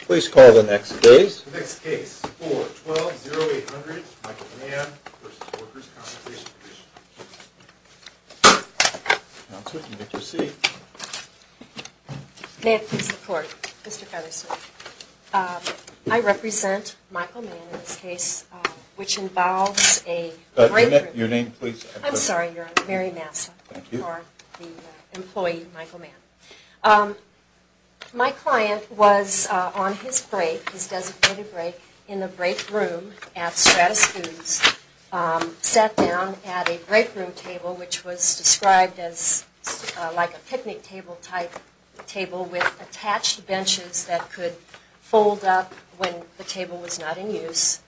Please call the next case. The next case, 4-12-0800, Michael Mann v. Workers' Compensation Comm'n. Counselor, you may proceed. May I please report, Mr. Fethersmith? I represent Michael Mann in this case, which involves a... Your name, please. I'm sorry, Your Honor, Mary Massa. Thank you. You are the employee, Michael Mann. My client was on his break, his designated break, in the break room at Stratus Foods, sat down at a break room table, which was described as like a picnic table-type table with attached benches that could fold up when the table was not in use.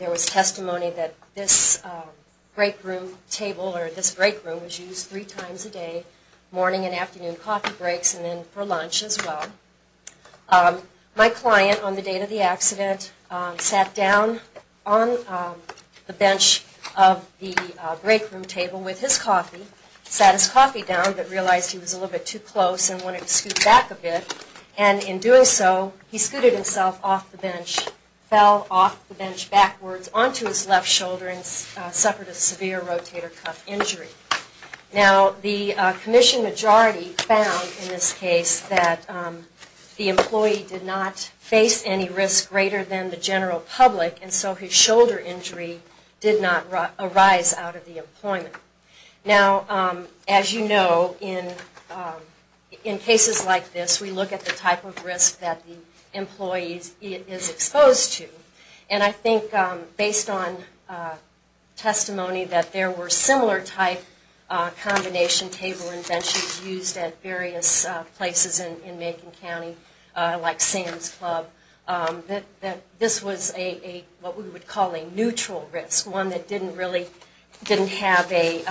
There was testimony that this break room table or this break room was used three times a day, morning and afternoon coffee breaks, and then for lunch as well. My client, on the date of the accident, sat down on the bench of the break room table with his coffee, sat his coffee down, but realized he was a little bit too close and wanted to scoot back a bit, and in doing so, he scooted himself off the bench, fell off the bench backwards onto his left shoulder and suffered a severe rotator cuff injury. Now, the commission majority found in this case that the employee did not face any risk greater than the general public, and so his shoulder injury did not arise out of the employment. Now, as you know, in cases like this, we look at the type of risk that the employee is exposed to, and I think based on testimony that there were similar type combination table and benches used at various places in Macon County, like Sam's Club, that this was what we would call a neutral risk, one that didn't really have a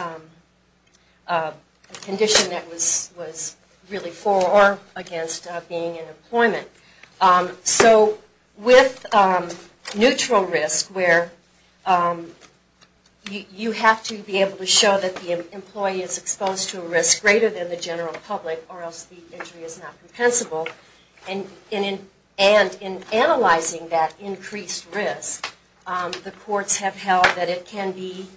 condition that was really for or against being in employment. So with neutral risk, where you have to be able to show that the employee is exposed to a risk greater than the general public or else the injury is not compensable, and in analyzing that increased risk, the courts have held that it can be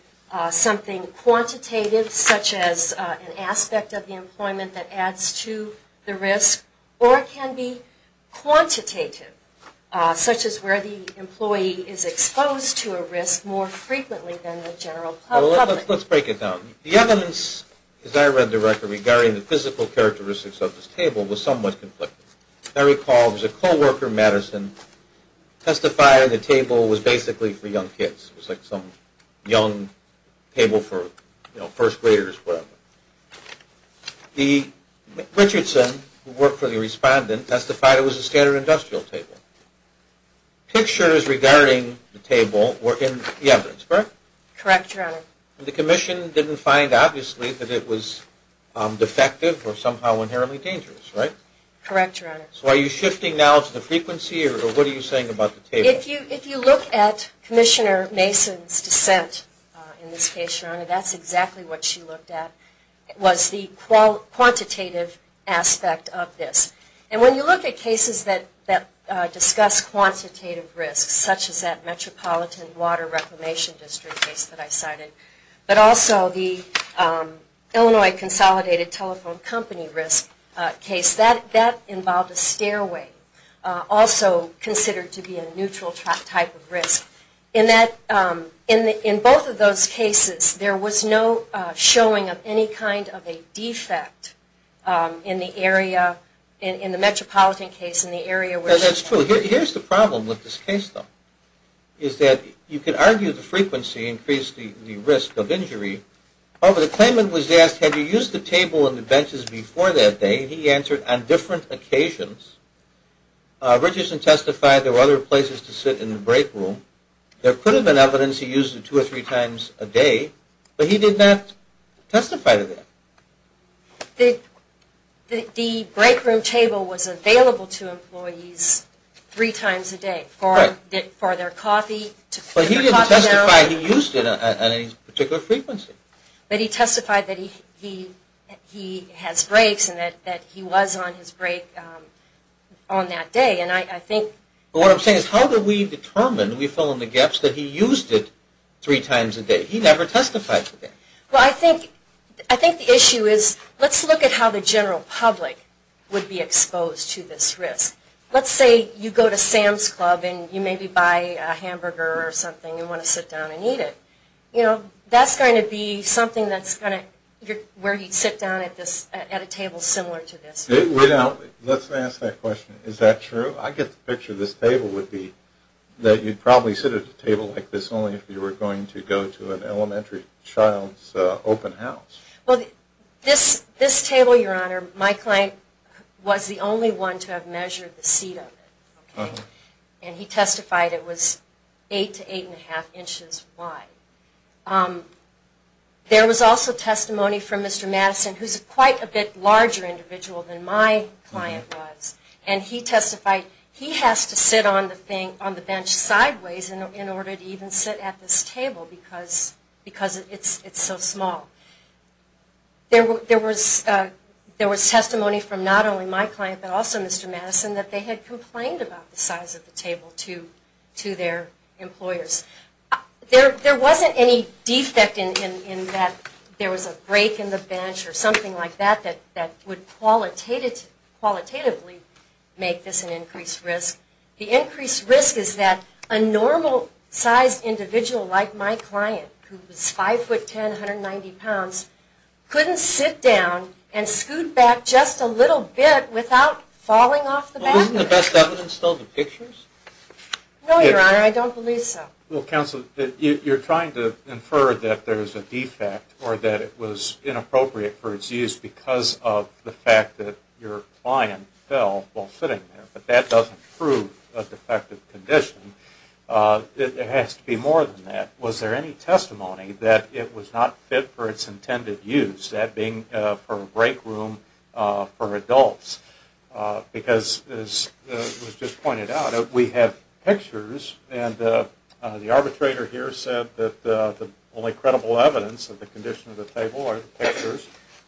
something quantitative, such as an aspect of the employment that adds to the risk, or it can be quantitative, such as where the employee is exposed to a risk more frequently than the general public. Let's break it down. The evidence, as I read the record, regarding the physical characteristics of this table was somewhat conflicting. I recall it was a co-worker, Madison, testified the table was basically for young kids. It was like some young table for, you know, first graders, whatever. Richardson, who worked for the respondent, testified it was a standard industrial table. Pictures regarding the table were in the evidence, correct? Correct, Your Honor. The commission didn't find, obviously, that it was defective or somehow inherently dangerous, right? Correct, Your Honor. So are you shifting now to the frequency, or what are you saying about the table? If you look at Commissioner Mason's dissent in this case, Your Honor, that's exactly what she looked at, was the quantitative aspect of this. And when you look at cases that discuss quantitative risks, such as that Metropolitan Water Reclamation District case that I cited, but also the Illinois Consolidated Telephone Company risk case, that involved a stairway, also considered to be a neutral type of risk. In both of those cases, there was no showing of any kind of a defect in the area, in the Metropolitan case, in the area where it was found. Actually, here's the problem with this case, though, is that you could argue the frequency increased the risk of injury. However, the claimant was asked, had you used the table and the benches before that day? He answered, on different occasions. Richardson testified there were other places to sit in the break room. There could have been evidence he used it two or three times a day, but he did not testify to that. The break room table was available to employees three times a day for their coffee. But he didn't testify he used it at any particular frequency. But he testified that he has breaks and that he was on his break on that day. What I'm saying is, how do we determine, do we fill in the gaps, that he used it three times a day? He never testified to that. Well, I think the issue is, let's look at how the general public would be exposed to this risk. Let's say you go to Sam's Club and you maybe buy a hamburger or something and you want to sit down and eat it. That's going to be something that's going to, where he'd sit down at a table similar to this. Let's ask that question. Is that true? I get the picture this table would be, that you'd probably sit at a table like this if you were going to go to an elementary child's open house. Well, this table, Your Honor, my client was the only one to have measured the seat of it. And he testified it was eight to eight and a half inches wide. There was also testimony from Mr. Madison, who's quite a bit larger individual than my client was, and he testified he has to sit on the bench sideways in order to even sit at this table because it's so small. There was testimony from not only my client but also Mr. Madison that they had complained about the size of the table to their employers. There wasn't any defect in that there was a break in the bench or something like that that would qualitatively make this an increased risk. The increased risk is that a normal-sized individual like my client, who was 5'10", 190 pounds, couldn't sit down and scoot back just a little bit without falling off the backrest. Isn't the best evidence still the pictures? No, Your Honor, I don't believe so. Well, Counsel, you're trying to infer that there's a defect or that it was inappropriate for its use because of the fact that your client fell while sitting there, but that doesn't prove a defective condition. There has to be more than that. Was there any testimony that it was not fit for its intended use, that being for a break room for adults? Because, as was just pointed out, we have pictures, and the arbitrator here said that the only credible evidence of the condition of the table are the pictures.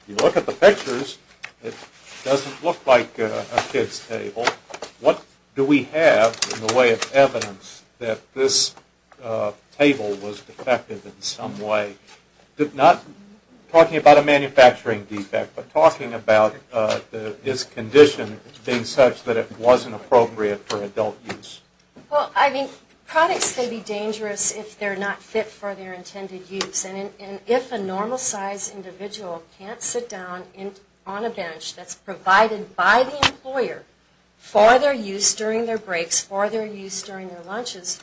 If you look at the pictures, it doesn't look like a kid's table. What do we have in the way of evidence that this table was defective in some way? Not talking about a manufacturing defect, but talking about this condition being such that it wasn't appropriate for adult use. Well, I mean, products can be dangerous if they're not fit for their intended use, and if a normal-sized individual can't sit down on a bench that's provided by the employer for their use during their breaks, for their use during their lunches,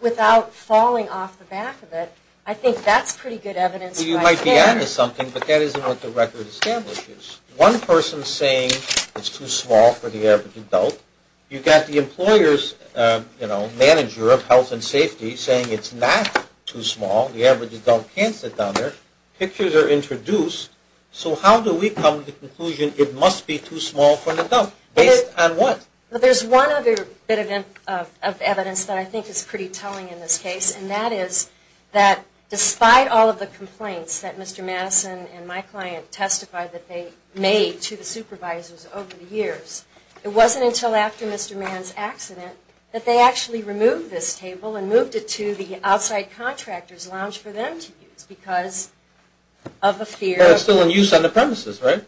without falling off the back of it, I think that's pretty good evidence right there. Well, you might be adding to something, but that isn't what the record establishes. One person saying it's too small for the average adult, you've got the employer's manager of health and safety saying it's not too small, the average adult can't sit down there. Pictures are introduced, so how do we come to the conclusion it must be too small for an adult? Based on what? Well, there's one other bit of evidence that I think is pretty telling in this case, and that is that despite all of the complaints that Mr. Madison and my client testified that they made to the supervisors over the years, it wasn't until after Mr. Mann's accident that they actually removed this table and moved it to the outside contractor's lounge for them to use because of a fear of... But it's still in use on the premises, right?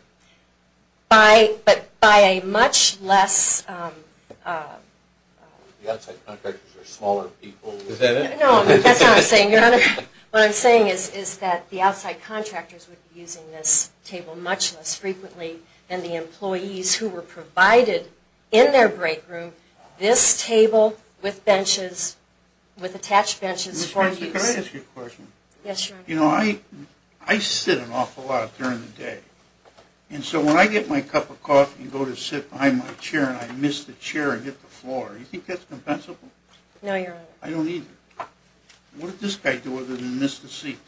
But by a much less... The outside contractors are smaller people. Is that it? No, that's not what I'm saying, Your Honor. What I'm saying is that the outside contractors would be using this table much less frequently than the employees who were provided in their break room this table with benches with attached benches for use. Ms. Patterson, can I ask you a question? Yes, Your Honor. You know, I sit an awful lot during the day, and so when I get my cup of coffee and go to sit behind my chair and I miss the chair and hit the floor, do you think that's compensable? No, Your Honor. I don't either. What did this guy do other than miss the seat?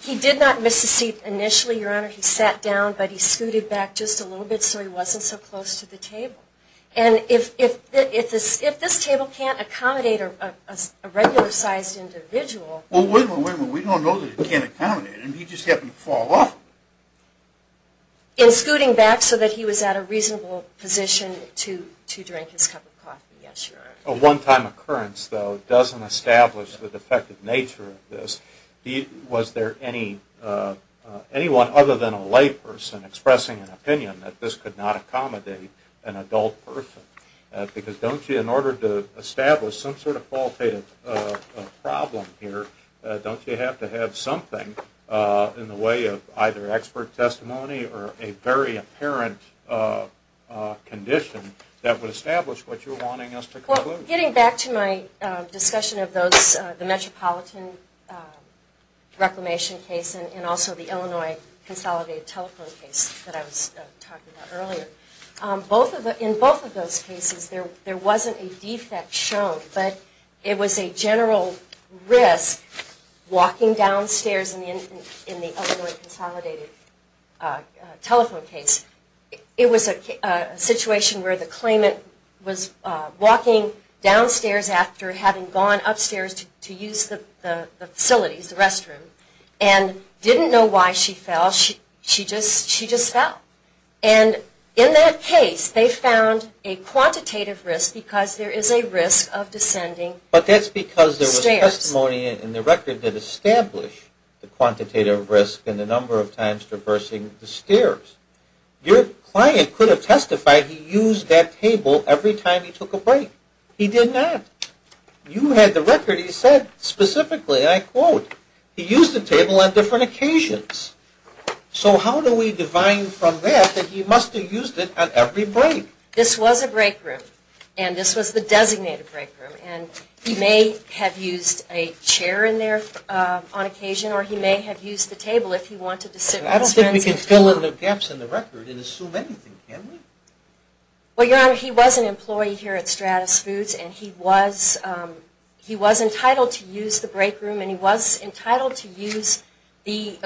He did not miss the seat initially, Your Honor. He sat down, but he scooted back just a little bit so he wasn't so close to the table. And if this table can't accommodate a regular-sized individual... Well, wait a minute. We don't know that it can't accommodate him. He just happened to fall off. In scooting back so that he was at a reasonable position to drink his cup of coffee. Yes, Your Honor. A one-time occurrence, though, doesn't establish the defective nature of this. Was there anyone other than a layperson expressing an opinion that this could not accommodate an adult person? Because don't you, in order to establish some sort of qualitative problem here, don't you have to have something in the way of either expert testimony or a very apparent condition that would establish what you're wanting us to conclude? Getting back to my discussion of the Metropolitan Reclamation case and also the Illinois Consolidated Telephone case that I was talking about earlier, in both of those cases there wasn't a defect shown, but it was a general risk walking downstairs in the Illinois Consolidated Telephone case. It was a situation where the claimant was walking downstairs after having gone upstairs to use the facilities, the restroom, and didn't know why she fell. She just fell. And in that case they found a quantitative risk because there is a risk of descending stairs. But that's because there was testimony in the record that established the quantitative risk and the number of times traversing the stairs. Your client could have testified he used that table every time he took a break. He did not. You had the record. You said specifically, and I quote, he used the table on different occasions. So how do we define from that that he must have used it on every break? This was a break room, and this was the designated break room. And he may have used a chair in there on occasion, or he may have used the table if he wanted to sit with his friends. I don't think we can fill in the gaps in the record and assume anything, can we? Well, Your Honor, he was an employee here at Stratus Foods, and he was entitled to use the break room, and he was entitled to use the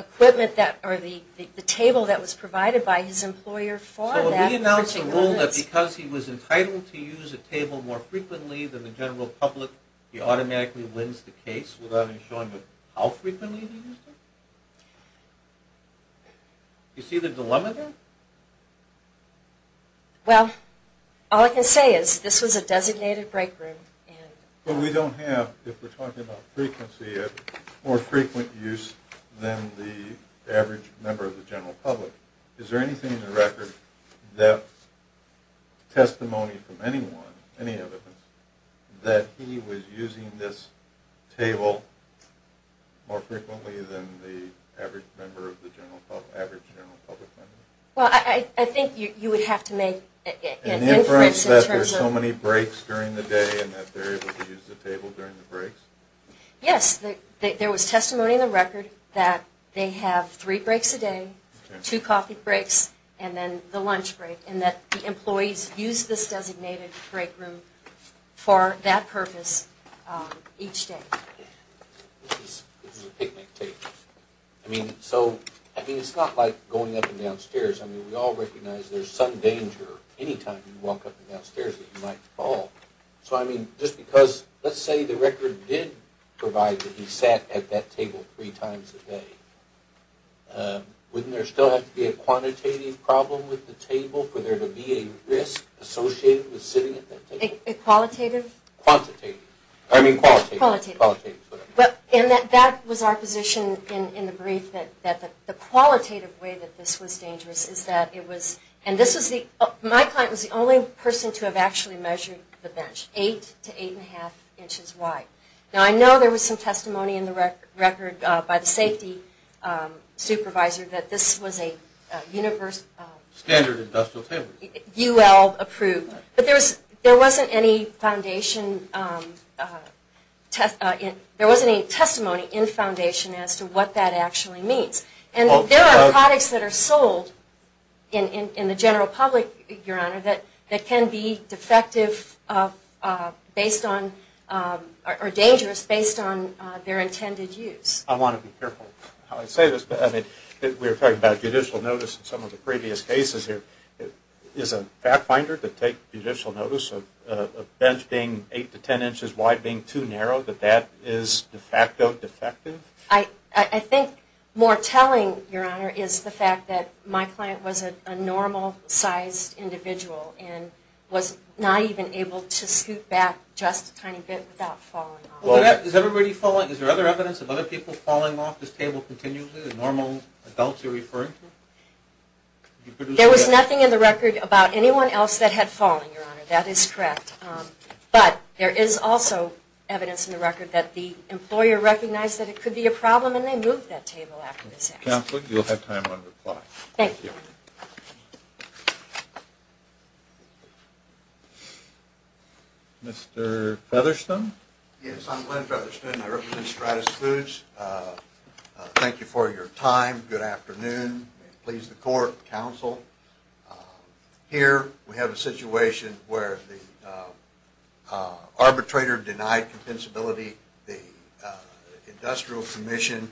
table that was provided by his employer for that. Did he announce a rule that because he was entitled to use a table more frequently than the general public, he automatically wins the case without ensuring how frequently he used it? Do you see the dilemma there? Well, all I can say is this was a designated break room. But we don't have, if we're talking about frequency, a more frequent use than the average member of the general public. Is there anything in the record that testimony from anyone, any evidence, that he was using this table more frequently than the average member of the general public, average general public member? Well, I think you would have to make an inference in terms of... An inference that there's so many breaks during the day and that they're able to use the table during the breaks? Yes, there was testimony in the record that they have three breaks a day, two coffee breaks, and then the lunch break, and that the employees use this designated break room for that purpose each day. This is a picnic table. I mean, so, I mean, it's not like going up and down stairs. I mean, we all recognize there's some danger any time you walk up and down stairs that you might fall. So, I mean, just because, let's say the record did provide that he sat at that table three times a day, wouldn't there still have to be a quantitative problem with the table for there to be a risk associated with sitting at that table? A qualitative? Quantitative. I mean, qualitative. Qualitative. Qualitative, whatever. And that was our position in the brief, that the qualitative way that this was dangerous is that it was, and this was the, my client was the only person to have actually measured the bench, eight to eight and a half inches wide. Now, I know there was some testimony in the record by the safety supervisor that this was a universal. Standard industrial table. UL approved. But there wasn't any foundation, there wasn't any testimony in the foundation as to what that actually means. And there are products that are sold in the general public, Your Honor, that can be defective based on, or dangerous based on their intended use. I want to be careful how I say this. But, I mean, we were talking about judicial notice in some of the previous cases here. Is a fact finder to take judicial notice of a bench being eight to ten inches wide being too narrow, that that is de facto defective? I think more telling, Your Honor, is the fact that my client was a normal sized individual and was not even able to scoot back just a tiny bit without falling off. Is there other evidence of other people falling off this table continually, the normal adults you're referring to? There was nothing in the record about anyone else that had fallen, Your Honor. That is correct. But there is also evidence in the record that the employer recognized that it could be a problem and they moved that table after this action. Counsel, you'll have time on reply. Thank you. Mr. Featherstone? Yes, I'm Glenn Featherstone. I represent Stratus Foods. Thank you for your time. Good afternoon. Please the court, counsel. Here we have a situation where the arbitrator denied compensability. The industrial commission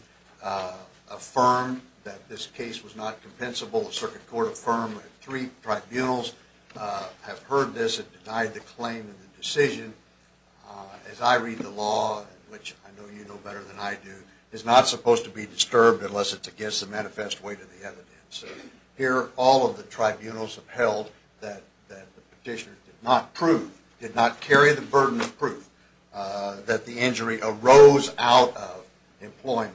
affirmed that this case was not compensable. The circuit court affirmed that three tribunals have heard this and denied the claim and the decision. As I read the law, which I know you know better than I do, it's not supposed to be disturbed unless it's against the manifest weight of the evidence. Here, all of the tribunals have held that the petitioner did not carry the burden of proof that the injury arose out of employment.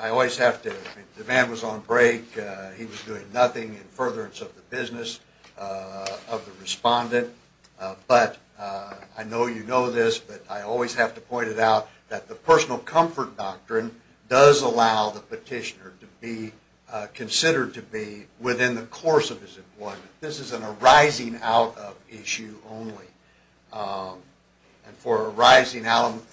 I always have to – the man was on break. He was doing nothing in furtherance of the business of the respondent. But I know you know this, but I always have to point it out that the personal comfort doctrine does allow the petitioner to be considered to be within the course of his employment. This is a rising out of issue only. And for a rising out of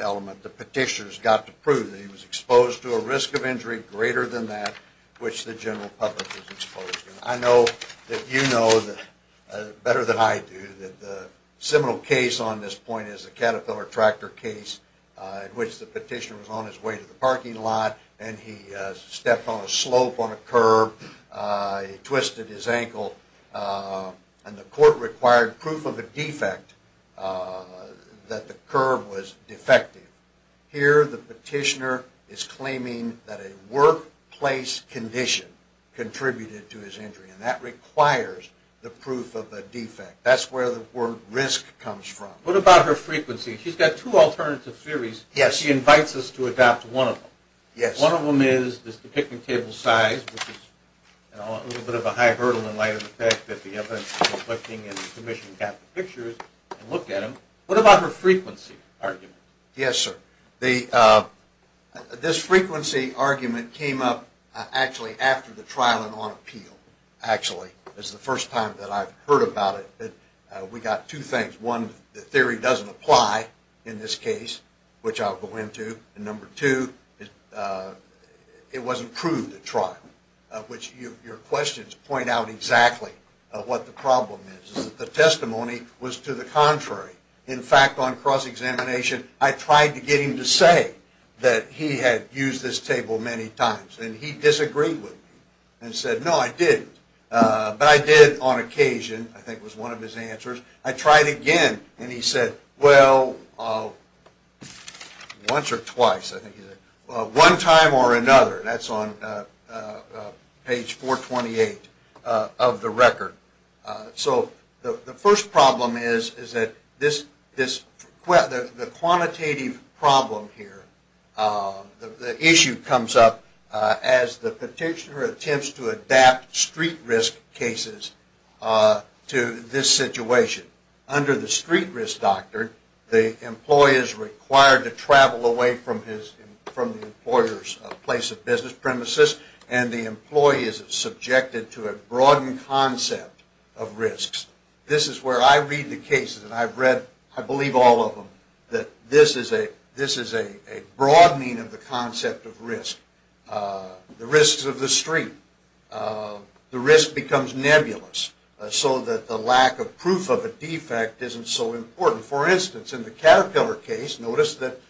element, the petitioner's got to prove that he was exposed to a risk of injury greater than that which the general public is exposed to. I know that you know better than I do that the seminal case on this point is the Caterpillar Tractor case in which the petitioner was on his way to the parking lot and he stepped on a slope on a curb, he twisted his ankle, and the court required proof of a defect that the curb was defective. Here the petitioner is claiming that a workplace condition contributed to his injury, and that requires the proof of a defect. That's where the word risk comes from. What about her frequency? She's got two alternative theories. She invites us to adopt one of them. One of them is the picnic table size, which is a little bit of a high hurdle in light of the fact that the evidence is conflicting and the commission got the pictures and looked at them. What about her frequency argument? Yes, sir. This frequency argument came up actually after the trial and on appeal. Actually, it's the first time that I've heard about it. We got two things. One, the theory doesn't apply in this case, which I'll go into. And number two, it wasn't proved at trial, which your questions point out exactly what the problem is. The testimony was to the contrary. In fact, on cross-examination, I tried to get him to say that he had used this table many times, and he disagreed with me and said, no, I didn't. But I did on occasion. I think it was one of his answers. I tried again, and he said, well, once or twice. I think he said, well, one time or another. That's on page 428 of the record. So the first problem is that the quantitative problem here, the issue comes up as the petitioner attempts to adapt street risk cases to this situation. Under the street risk doctrine, the employee is required to travel away from the employer's place of business premises, and the employee is subjected to a broadened concept of risks. This is where I read the cases, and I believe all of them, that this is a broadening of the concept of risk. The risks of the street, the risk becomes nebulous, so that the lack of proof of a defect isn't so important. For instance, in the Caterpillar case, notice that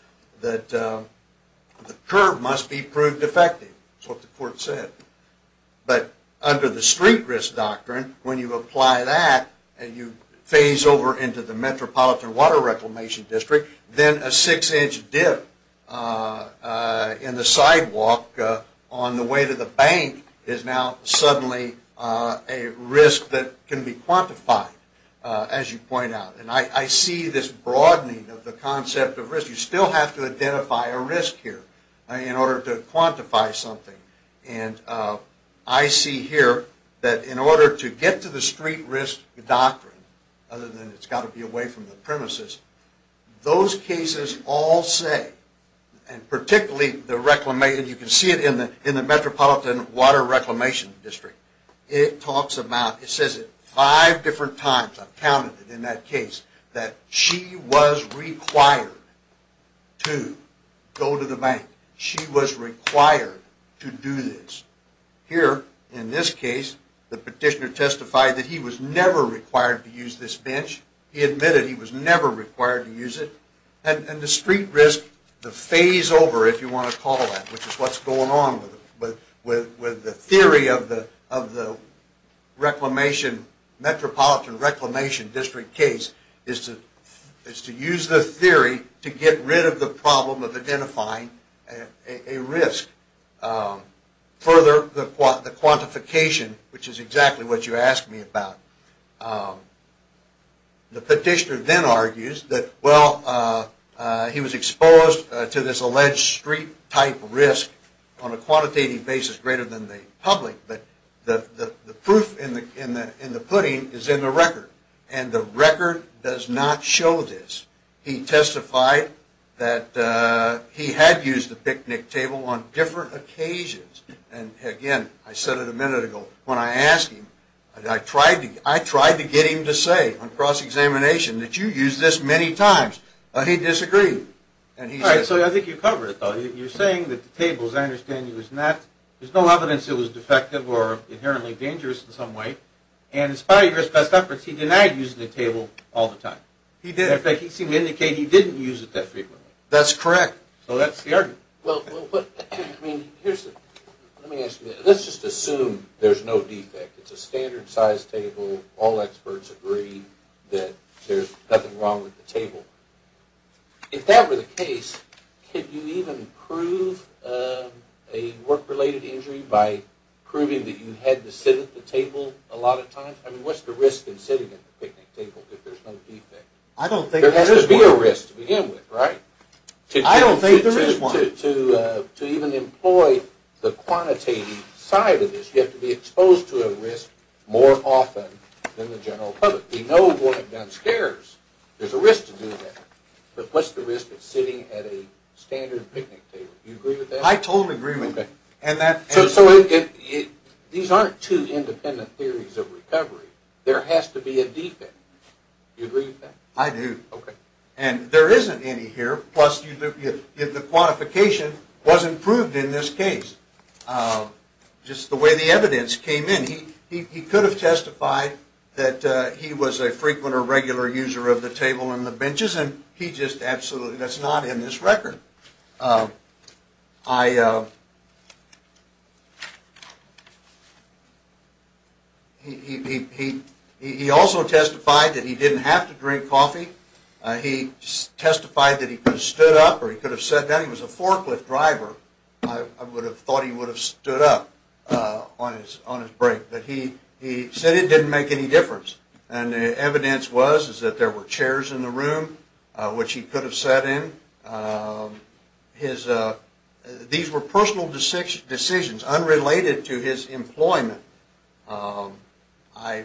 the curb must be proved defective. That's what the court said. But under the street risk doctrine, when you apply that, and you phase over into the Metropolitan Water Reclamation District, then a six-inch dip in the sidewalk on the way to the bank is now suddenly a risk that can be quantified, as you point out. I see this broadening of the concept of risk. You still have to identify a risk here in order to quantify something, and I see here that in order to get to the street risk doctrine, other than it's got to be away from the premises, those cases all say, and you can see it in the Metropolitan Water Reclamation District, it says it five different times, I've counted it in that case, that she was required to go to the bank. She was required to do this. Here, in this case, the petitioner testified that he was never required to use this bench. He admitted he was never required to use it, and the street risk, the phase over, if you want to call it that, which is what's going on with the theory of the Metropolitan Reclamation District case, is to use the theory to get rid of the problem of identifying a risk. Further, the quantification, which is exactly what you asked me about. The petitioner then argues that he was exposed to this alleged street type risk on a quantitative basis greater than the public, but the proof in the pudding is in the record, and the record does not show this. He testified that he had used the picnic table on different occasions, and again, I said it a minute ago, when I asked him, I tried to get him to say on cross-examination that you use this many times, but he disagreed. All right, so I think you covered it, though. You're saying that the table, as I understand, there's no evidence it was defective or inherently dangerous in some way, and in spite of your best efforts, he denied using the table all the time. He did. In fact, he seemed to indicate he didn't use it that frequently. That's correct. So that's the argument. Well, let me ask you this. Let's just assume there's no defect. It's a standard-sized table. All experts agree that there's nothing wrong with the table. If that were the case, could you even prove a work-related injury by proving that you had to sit at the table a lot of times? I mean, what's the risk in sitting at the picnic table if there's no defect? I don't think there is one. There has to be a risk to begin with, right? I don't think there is one. To even employ the quantitative side of this, you have to be exposed to a risk more often than the general public. We know what a gun scares. There's a risk to doing that. But what's the risk of sitting at a standard picnic table? Do you agree with that? I totally agree with you. These aren't two independent theories of recovery. There has to be a defect. Do you agree with that? I do. And there isn't any here. Plus, the quantification wasn't proved in this case. Just the way the evidence came in, he could have testified that he was a frequent or regular user of the table and the benches, and he just absolutely does not in this record. He also testified that he didn't have to drink coffee. He testified that he could have stood up or he could have sat down. He was a forklift driver. I would have thought he would have stood up on his break. But he said it didn't make any difference. And the evidence was that there were chairs in the room which he could have sat in. These were personal decisions unrelated to his employment. I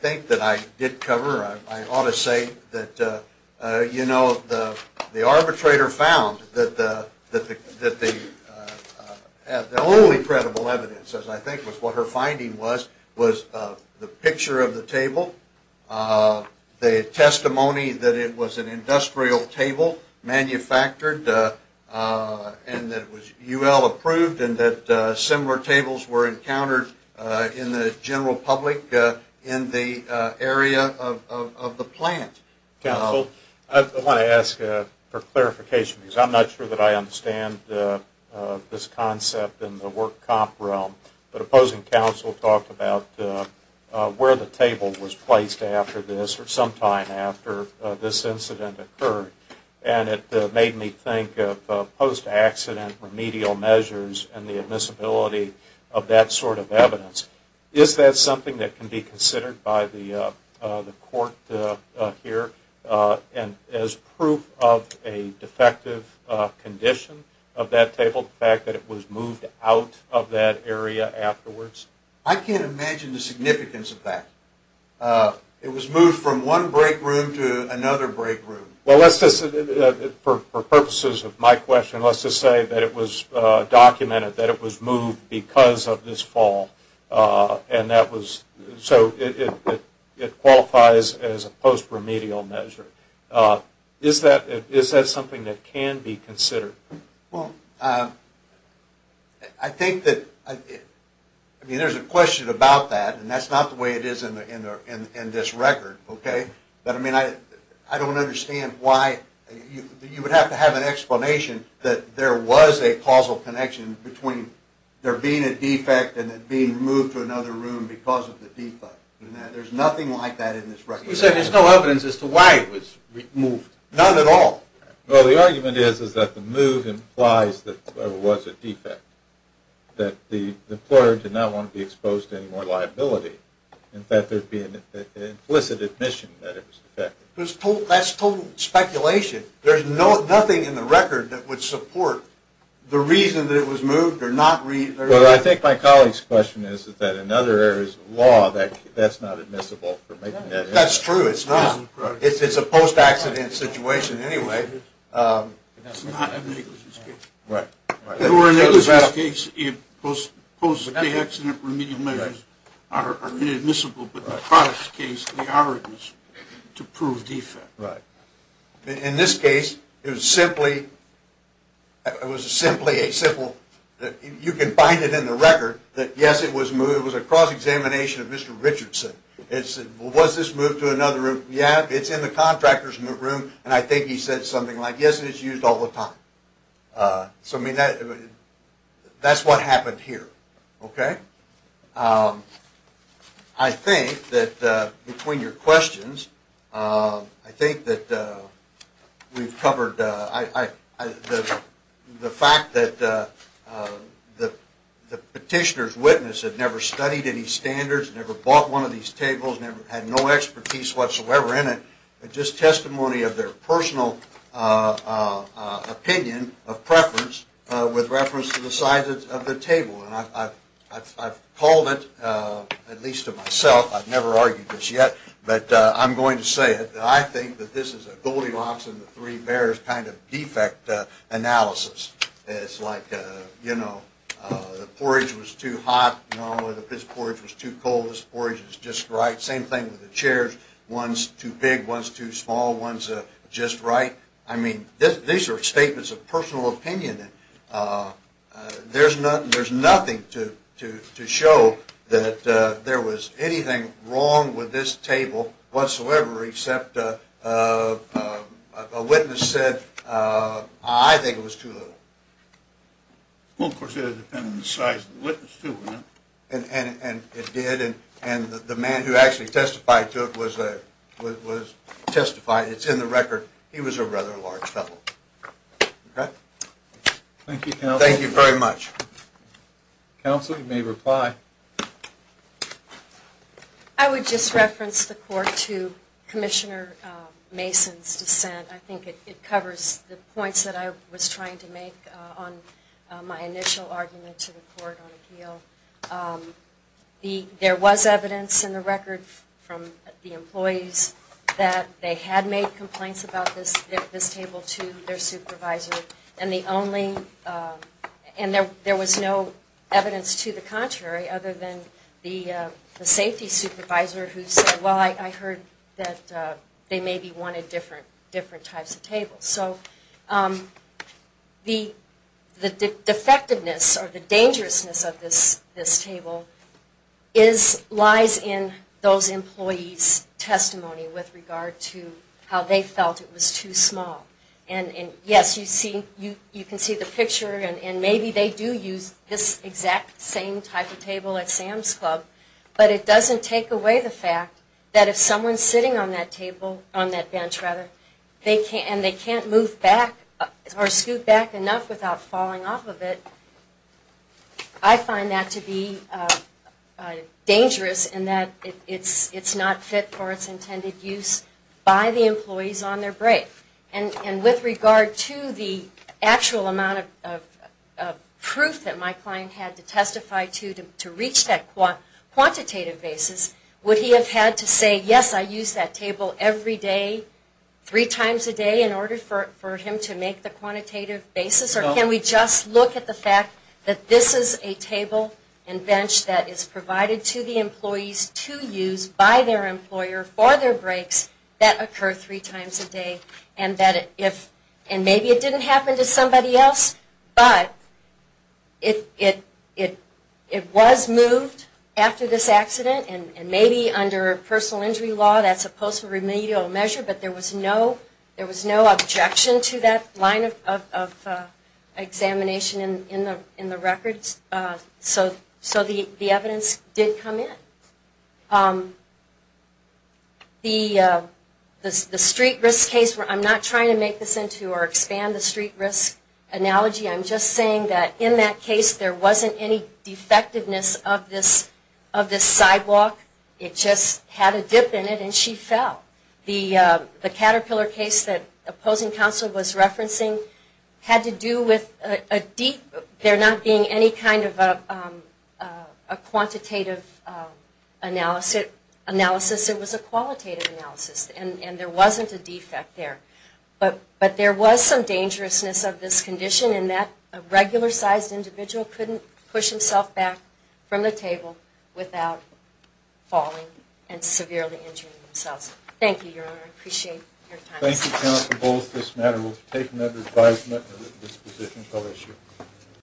think that I did cover. I ought to say that, you know, the arbitrator found that the only credible evidence, as I think was what her finding was, was the picture of the table, the testimony that it was an industrial table, manufactured, and that it was UL approved, and that similar tables were encountered in the general public in the area of the plant. Counsel, I want to ask for clarification, because I'm not sure that I understand this concept in the work comp realm. But opposing counsel talked about where the table was placed after this or sometime after this incident occurred, and it made me think of post-accident remedial measures and the admissibility of that sort of evidence. Is that something that can be considered by the court here as proof of a defective condition of that table, the fact that it was moved out of that area afterwards? I can't imagine the significance of that. It was moved from one break room to another break room. Well, let's just, for purposes of my question, let's just say that it was documented that it was moved because of this fall, and that was, so it qualifies as a post-remedial measure. Is that something that can be considered? Well, I think that, I mean, there's a question about that, and that's not the way it is in this record, okay? But, I mean, I don't understand why you would have to have an explanation that there was a causal connection between there being a defect and it being moved to another room because of the defect. There's nothing like that in this record. You said there's no evidence as to why it was moved. None at all. Well, the argument is that the move implies that there was a defect, that the employer did not want to be exposed to any more liability. In fact, there'd be an implicit admission that it was defective. That's total speculation. There's nothing in the record that would support the reason that it was moved or not reason. Well, I think my colleague's question is that in other areas of law, that's not admissible for making that argument. That's true. It's not. It's a post-accident situation anyway. It's not an negligence case. Right. Or in a negligence case, post-accident remedial measures are inadmissible. But in a product case, the argument is to prove defect. Right. In this case, it was simply a simple, you can find it in the record, that, yes, it was moved. It was a cross-examination of Mr. Richardson. It said, well, was this moved to another room? Yeah, it's in the contractor's new room, and I think he said something like, yes, it's used all the time. So, I mean, that's what happened here. Okay? I think that between your questions, I think that we've covered the fact that the petitioner's witness had never studied any standards, never bought one of these tables, had no expertise whatsoever in it, but just testimony of their personal opinion of preference with reference to the size of the table. And I've called it, at least to myself, I've never argued this yet, but I'm going to say it. I think that this is a Goldilocks and the Three Bears kind of defect analysis. It's like, you know, the porridge was too hot. No, this porridge was too cold. This porridge is just right. Same thing with the chairs. One's too big, one's too small, one's just right. I mean, these are statements of personal opinion. There's nothing to show that there was anything wrong with this table whatsoever except a witness said, I think it was too little. Well, of course, it would depend on the size of the witness too, wouldn't it? And it did. And the man who actually testified to it was testified. It's in the record. He was a rather large fellow. Okay? Thank you, counsel. Thank you very much. Counsel, you may reply. I would just reference the court to Commissioner Mason's dissent. I think it covers the points that I was trying to make on my initial argument to the court on appeal. There was evidence in the record from the employees that they had made complaints about this table to their supervisor, and there was no evidence to the contrary other than the safety supervisor who said, well, I heard that they maybe wanted different types of tables. So the defectiveness or the dangerousness of this table lies in those employees' testimony with regard to how they felt it was too small. And, yes, you can see the picture, and maybe they do use this exact same type of table at Sam's Club, but it doesn't take away the fact that if someone's sitting on that table, on that bench, rather, and they can't move back or scoot back enough without falling off of it, I find that to be dangerous in that it's not fit for its intended use by the employees on their break. And with regard to the actual amount of proof that my client had to testify to to reach that quantitative basis, would he have had to say, yes, I use that table every day, three times a day in order for him to make the quantitative basis, or can we just look at the fact that this is a table and bench that is provided to the employees to use by their employer for their breaks that occur three times a day, and maybe it didn't happen to somebody else, but it was moved after this accident, and maybe under personal injury law that's a possible remedial measure, but there was no objection to that line of examination in the records, so the evidence did come in. The street risk case, I'm not trying to make this into or expand the street risk analogy. I'm just saying that in that case there wasn't any defectiveness of this sidewalk. It just had a dip in it and she fell. The Caterpillar case that opposing counsel was referencing had to do with a deep, there not being any kind of a quantitative analysis. It was a qualitative analysis, and there wasn't a defect there. But there was some dangerousness of this condition in that a regular-sized individual couldn't push himself back from the table without falling and severely injuring themselves. Thank you, Your Honor. I appreciate your time. Thank you, counsel, for both this matter. We'll take another advisement at this position until next year.